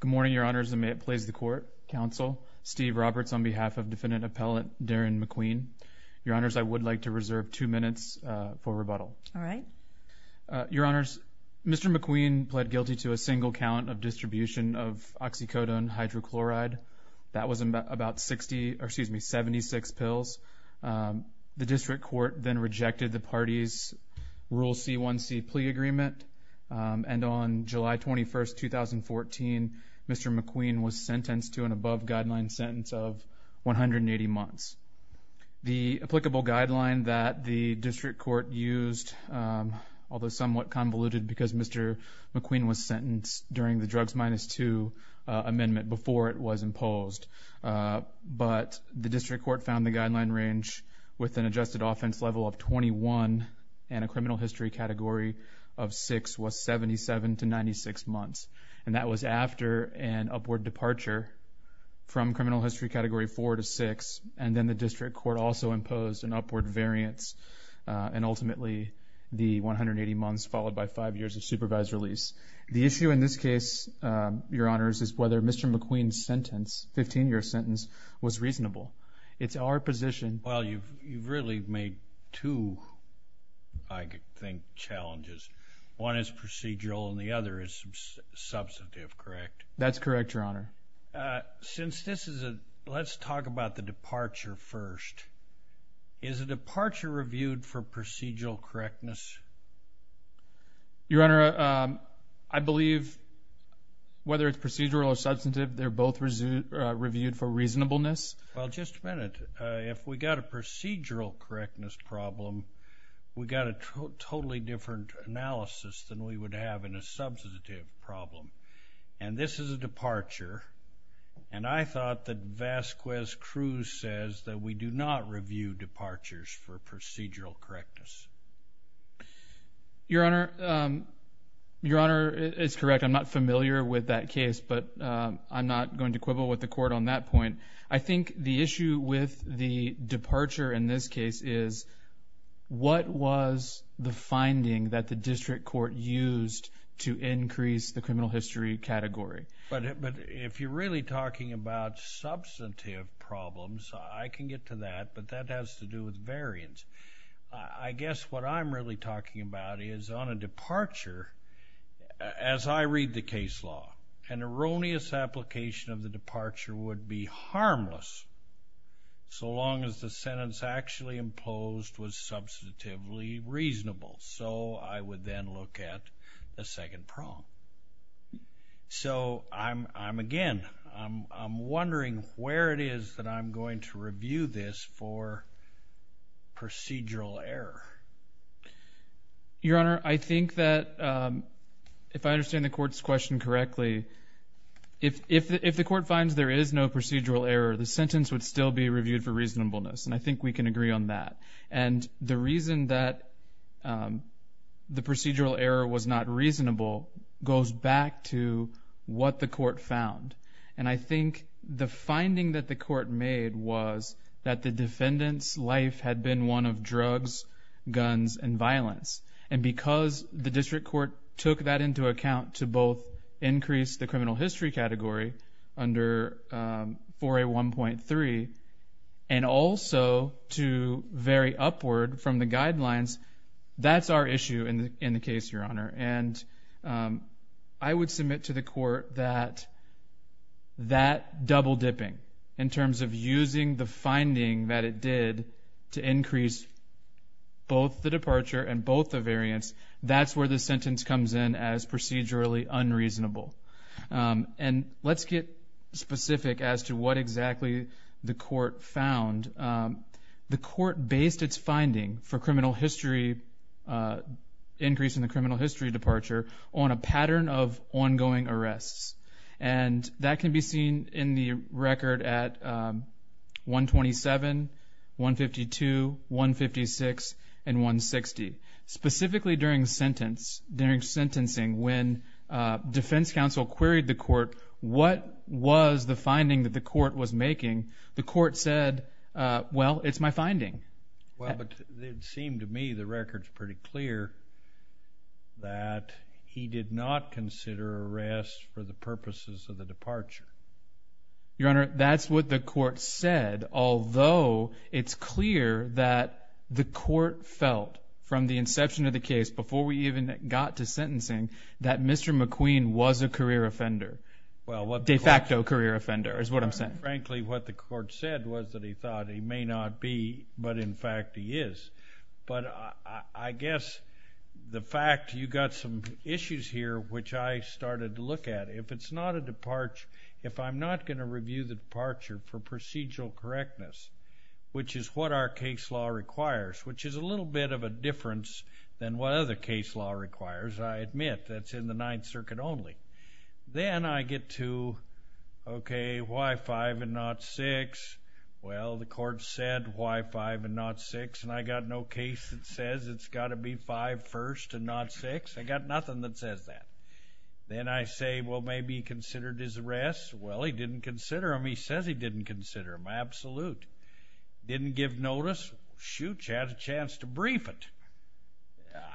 Good morning, Your Honors, and may it please the Court, Counsel, Steve Roberts on behalf of Defendant Appellant Darren McQueen. Your Honors, I would like to reserve two minutes for rebuttal. All right. Your Honors, Mr. McQueen pled guilty to a single count of distribution of oxycodone hydrochloride. That was about 60, or excuse me, 76 pills. The District Court then rejected the party's Rule C-1C plea agreement, and on July 21, 2014, Mr. McQueen was sentenced to an above-guideline sentence of 180 months. The applicable guideline that the District Court used, although somewhat convoluted because Mr. McQueen was sentenced during the drugs minus two amendment before it was imposed, but the District Court found the guideline range with an adjusted offense level of 21 and a criminal history category of 6 was 77 to 96 months, and that was after an upward departure from criminal history category 4 to 6, and then the District Court also imposed an upward variance, and ultimately the 180 months followed by five years of supervised release. The issue in this case, Your Honors, is whether Mr. McQueen's sentence, 15-year sentence, was reasonable. It's our position... Well, you've really made two, I think, challenges. One is procedural, and the other is substantive, correct? That's correct, Your Honor. Since this is a... let's talk about the departure first. Is a departure reviewed for procedural correctness? Your Honor, I believe whether it's procedural or substantive, they're both reviewed for reasonableness. Well, just a minute. If we've got a procedural correctness problem, we've got a totally different analysis than we would have in a substantive problem, and this is a departure, and I thought that Vasquez-Cruz says that we do not review departures for procedural correctness. Your Honor, it's correct. I'm not familiar with that case, but I'm not going to quibble with the Court on that point. I think the issue with the departure in this case is, what was the finding that the District Court used to increase the criminal history category? But if you're really talking about substantive problems, I can get to that, but that has to do with variance. I guess what I'm really talking about is, on a departure, as I read the case law, an erroneous application of the departure would be harmless so long as the sentence actually imposed was substantively reasonable. So I would then look at the second problem. So, again, I'm wondering where it is that I'm going to review this for procedural error. Your Honor, I think that, if I understand the Court's question correctly, if the Court finds there is no procedural error, the sentence would still be reviewed for reasonableness, and I think we can agree on that. And the reason that the procedural error was not reasonable goes back to what the Court found. And I think the finding that the Court made was that the defendant's life had been one of drugs, guns, and violence. And because the District Court took that into account to both increase the criminal history category under 4A1.3 and also to vary upward from the guidelines, that's our issue in the case, Your Honor. And I would submit to the Court that that double-dipping, in terms of using the finding that it did to increase both the departure and both the variance, that's where the sentence comes in as procedurally unreasonable. And let's get specific as to what exactly the Court found. The Court based its finding for criminal history, increase in the criminal history departure, on a pattern of ongoing arrests. And that can be seen in the record at 127, 152, 156, and 160. Specifically during sentencing, when Defense Counsel queried the Court, the Court said, well, it's my finding. Well, but it seemed to me the record's pretty clear that he did not consider arrests for the purposes of the departure. Your Honor, that's what the Court said, although it's clear that the Court felt from the inception of the case, before we even got to sentencing, that Mr. McQueen was a career offender, de facto. And that's what the Court said, that he thought he may not be, but in fact he is. But I guess the fact, you got some issues here, which I started to look at. If it's not a departure, if I'm not going to review the departure for procedural correctness, which is what our case law requires, which is a little bit of a difference than what other case law requires, I admit, that's in the Ninth Circuit only. Then I get to, okay, why 5 and not 6? Well, the Court said, why 5 and not 6? And I got no case that says it's got to be 5 first and not 6. I got nothing that says that. Then I say, well, maybe he considered his arrests. Well, he didn't consider them. He says he didn't consider them. Absolute. Didn't give notice. Shoot, you had a chance to brief it.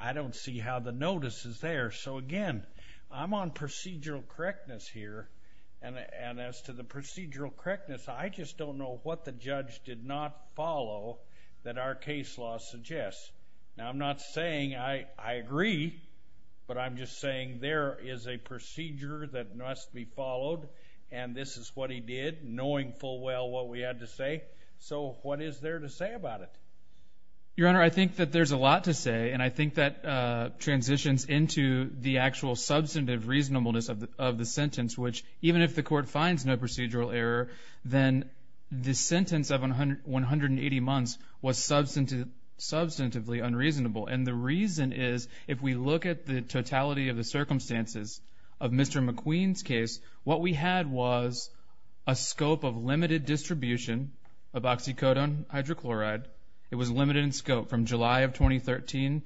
I don't see how the notice is there. So again, I'm on procedural correctness here. And as to the procedural correctness, I just don't know what the judge did not follow that our case law suggests. Now, I'm not saying I agree, but I'm just saying there is a procedure that must be followed, and this is what he did, knowing full well what we had to say. So what is there to say about it? Your Honor, I think that there's a lot to say, and I think that transitions into the actual substantive reasonableness of the sentence, which even if the Court finds no procedural error, then the sentence of 180 months was substantively unreasonable. And the reason is, if we look at the totality of the circumstances of Mr. McQueen's case, what we had was a scope of limited distribution of oxycodone hydrochloride. It was limited in scope from July of 2013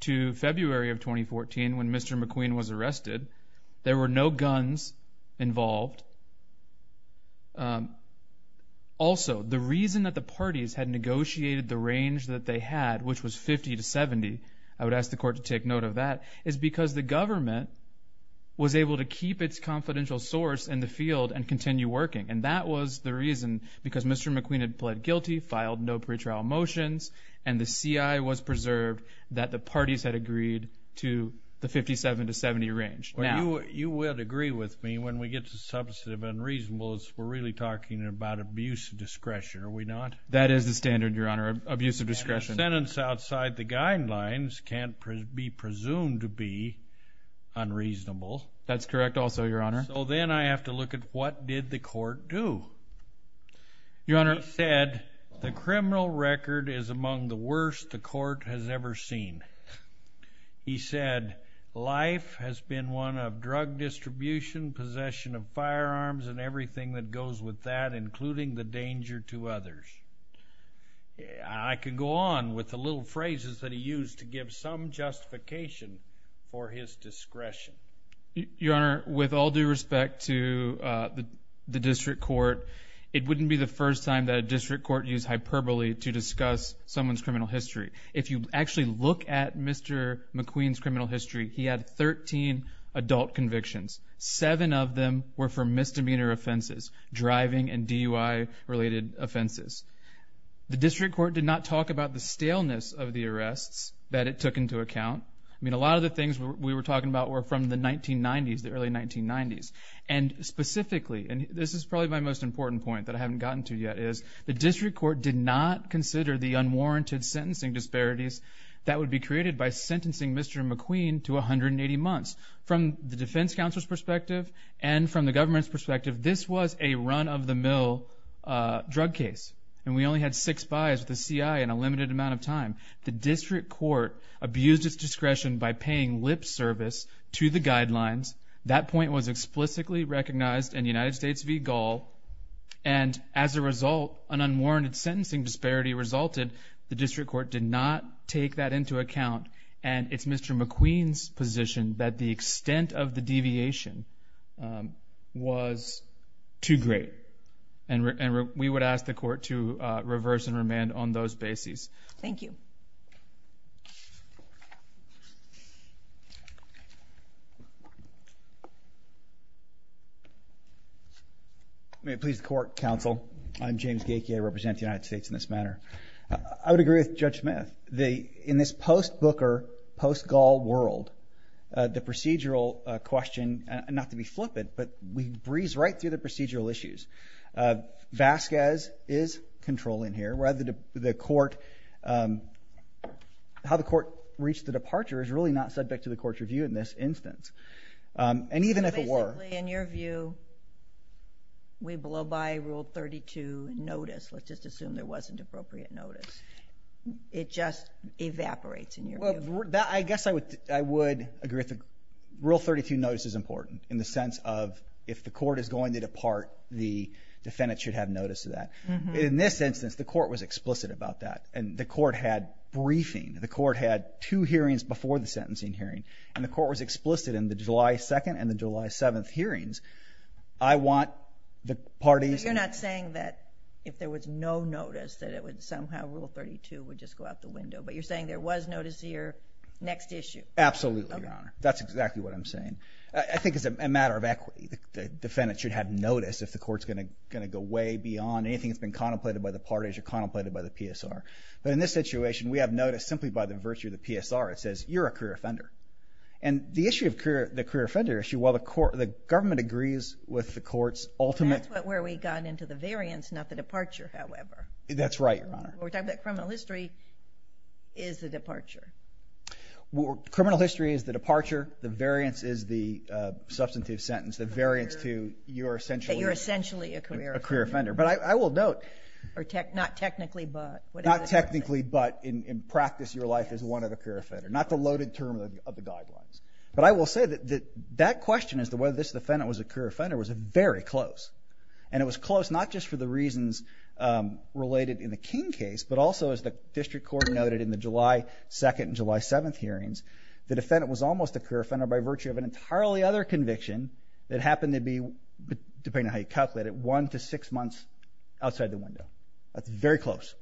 to February of 2014 when Mr. McQueen was arrested. There were no guns involved. Also, the reason that the parties had negotiated the range that they had, which was 50 to 70, I would ask the Court to take note of that, is because the government was able to keep its confidential source in the field and continue working. And that was the reason, because Mr. McQueen had pled guilty, filed no pretrial motions, and the CI was preserved that the parties had agreed to the 57 to 70 range. You would agree with me when we get to substantive unreasonableness, we're really talking about abuse of discretion, are we not? That is the standard, Your Honor, abuse of discretion. A sentence outside the guidelines can't be presumed to be unreasonable. That's correct also, Your Honor. So then I have to look at what did the Court do? Your Honor. He said, the criminal record is among the worst the Court has ever seen. He said, life has been one of drug distribution, possession of firearms, and everything that goes with that, including the danger to others. I could go on with the little phrases that he used to give some justification for his discretion. Your Honor, with all due respect to the District Court, it wouldn't be the first time that a District Court used hyperbole to discuss someone's criminal history. If you actually look at Mr. McQueen's criminal history, he had 13 adult convictions. Seven of them were for misdemeanor offenses, driving and DUI-related offenses. The District Court did not talk about the staleness of the arrests that it took into account. I mean, a lot of the things we were talking about were from the 1990s, the early 1990s. And specifically, and this is probably my most important point that I haven't gotten to yet, is the District Court did not consider the unwarranted sentencing disparities that would be created by sentencing Mr. McQueen to 180 months. From the defense counsel's perspective and from the government's perspective, this was a run-of-the-mill drug case. And we only had six buys with the CIA in a limited amount of time. The District Court abused its discretion by paying lip service to the guidelines. That point was explicitly recognized in United States v. Gall. And as a result, an unwarranted sentencing disparity resulted. The District Court did not take that into account. And it's Mr. McQueen's position that the extent of the deviation was too great. And we would ask the Court to reverse and remand on those bases. Thank you. May it please the Court, Counsel. I'm James Gakie. I represent the United States in this manner. I would agree with Judge Smith. In this post-Booker, post-Gall world, the procedural question, and not to be flippant, but we breeze right through the procedural issues. Vasquez is controlling here. How the Court reached the departure is really not subject to the Court's review in this instance. And even if it were... So basically, in your view, we blow by Rule 32 notice. Let's just assume there wasn't appropriate notice. It just evaporates in your view. I guess I would agree that Rule 32 notice is important in the sense of if the Court is going to depart, the defendant should have notice of that. In this instance, the Court was explicit about that. And the Court had briefing. The Court had two hearings before the sentencing hearing. And the Court was explicit in the July 2nd and the July 7th hearings. I want the parties... You're not saying that if there was no notice, that it would somehow Rule 32 would just go out the window. But you're saying there was notice here. Next issue. Absolutely, Your Honor. That's exactly what I'm saying. I think it's a matter of equity. The defendant should have notice if the Court's going to go way beyond anything that's been contemplated by the parties or contemplated by the PSR. But in this situation, we have notice simply by the virtue of the PSR. It says, you're a career offender. And the issue of the career offender issue, while the Government agrees with the Court's ultimate... That's where we got into the variance, not the departure, however. That's right, Your Honor. We're talking about criminal history is the departure. Criminal history is the departure. The variance is the substantive sentence. The variance to you're essentially... You're essentially a career offender. A career offender. But I will note... Not technically, but... Not technically, but in practice, your life is one of a career offender. Not the loaded term of the guidelines. But I will say that that question as to whether this defendant was a career offender was very close. And it was close not just for the reasons related in the King case, but also as the District Court noted in the July 2nd and July 7th hearings, the defendant was almost a career offender by virtue of an entirely other conviction that happened to be, depending on how you calculate it, one to six months outside the window. That's very close.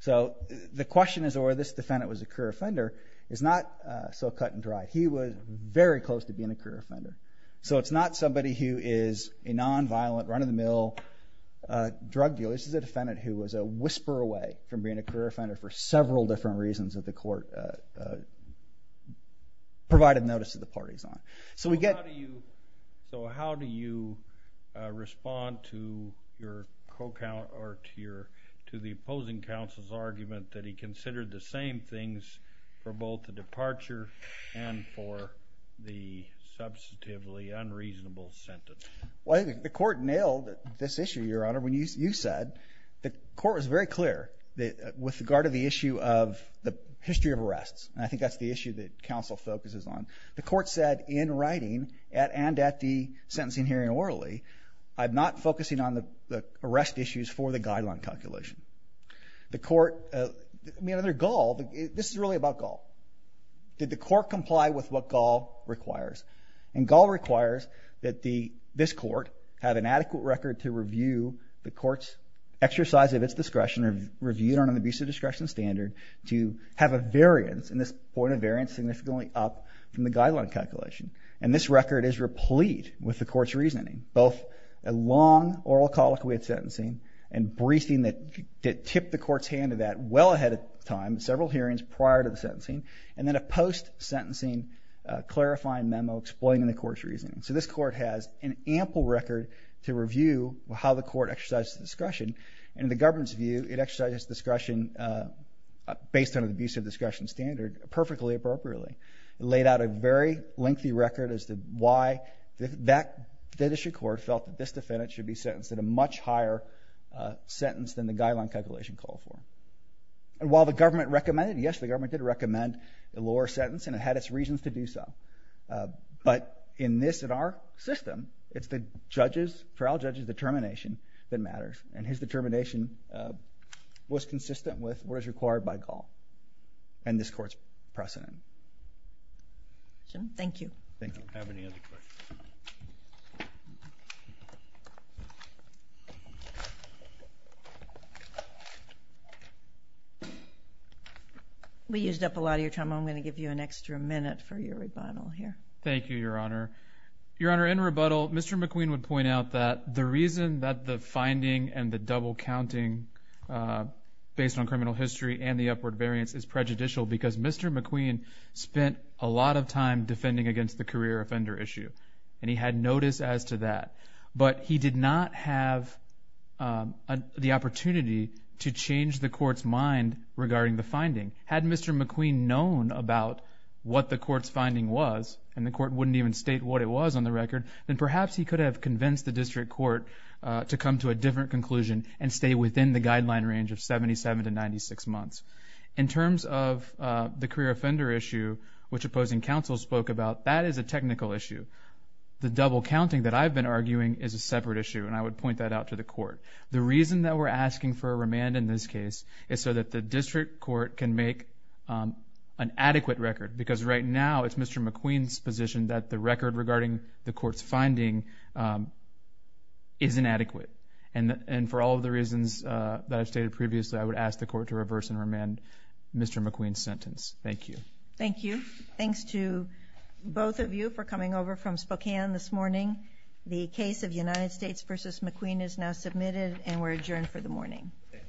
So the question as to whether this defendant was a career offender is not so cut and dry. He was very close to being a career offender. So it's not somebody who is a non-violent, run-of-the-mill drug dealer. This is a defendant who was a whisper away from being a career offender for several different reasons that the Court provided notice to the parties on. So how do you respond to the opposing counsel's argument that he considered the same things for both the departure and for the substantively unreasonable sentence? The Court nailed this issue, Your Honor, when you said the Court was very clear with regard to the issue of the history of arrests. And I think that's the issue that counsel focuses on. The Court said in writing, and at the sentencing hearing orally, I'm not focusing on the arrest issues for the guideline calculation. The Court, I mean, under Gall, this is really about Gall. Did the Court comply with what Gall requires? And Gall requires that this Court have an adequate record to review the Court's exercise of its discretion, review it on an abuse of discretion standard, to have a variance, and this point of variance significantly up from the guideline calculation. And this record is replete with the Court's reasoning, both a long oral colloquy at sentencing and briefing that tipped the Court's hand to that well ahead of time, several hearings prior to the sentencing, and then a post-sentencing clarifying memo explaining the Court's reasoning. So this Court has an ample record to review how the Court exercises its discretion, and in the government's view, it exercises its discretion based on an abuse of discretion standard perfectly appropriately. It laid out a very lengthy record as to why that district court felt that this defendant should be sentenced in a much higher sentence than the guideline calculation called for. And while the government recommended it, yes, the government did recommend a lower sentence, and it had its reasons to do so. But in this, in our system, it's the judge's, trial judge's determination that matters, and his determination was consistent with what is required by Gall and this Court's precedent. Thank you. We used up a lot of your time. I'm going to give you an extra minute for your rebuttal here. Thank you, Your Honor. Your Honor, in rebuttal, Mr. McQueen would point out that the reason that the finding and the double counting based on criminal history and the upward variance is prejudicial because Mr. McQueen spent a lot of time defending against the career offender issue, and he had notice as to that. But he did not have the opportunity to change the Court's mind regarding the finding. Had Mr. McQueen known about what the Court's finding was, and the Court wouldn't even state what it was on the record, then perhaps he could have convinced the district court to come to a different conclusion and stay within the guideline range of 77 to 96 months. In terms of the career offender issue, which opposing counsel spoke about, that is a technical issue. The double counting that I've been arguing is a separate issue, and I would point that out to the Court. The reason that we're asking for a remand in this case is so that the district court can make an adequate record because right now it's Mr. McQueen's position that the record regarding the Court's finding is inadequate. And for all of the reasons that I've stated previously, I would ask the Court to reverse and remand Mr. McQueen's sentence. Thank you. Thank you. Thanks to both of you for coming over from Spokane this morning. The case of United States v. McQueen is now submitted and we're adjourned for the morning.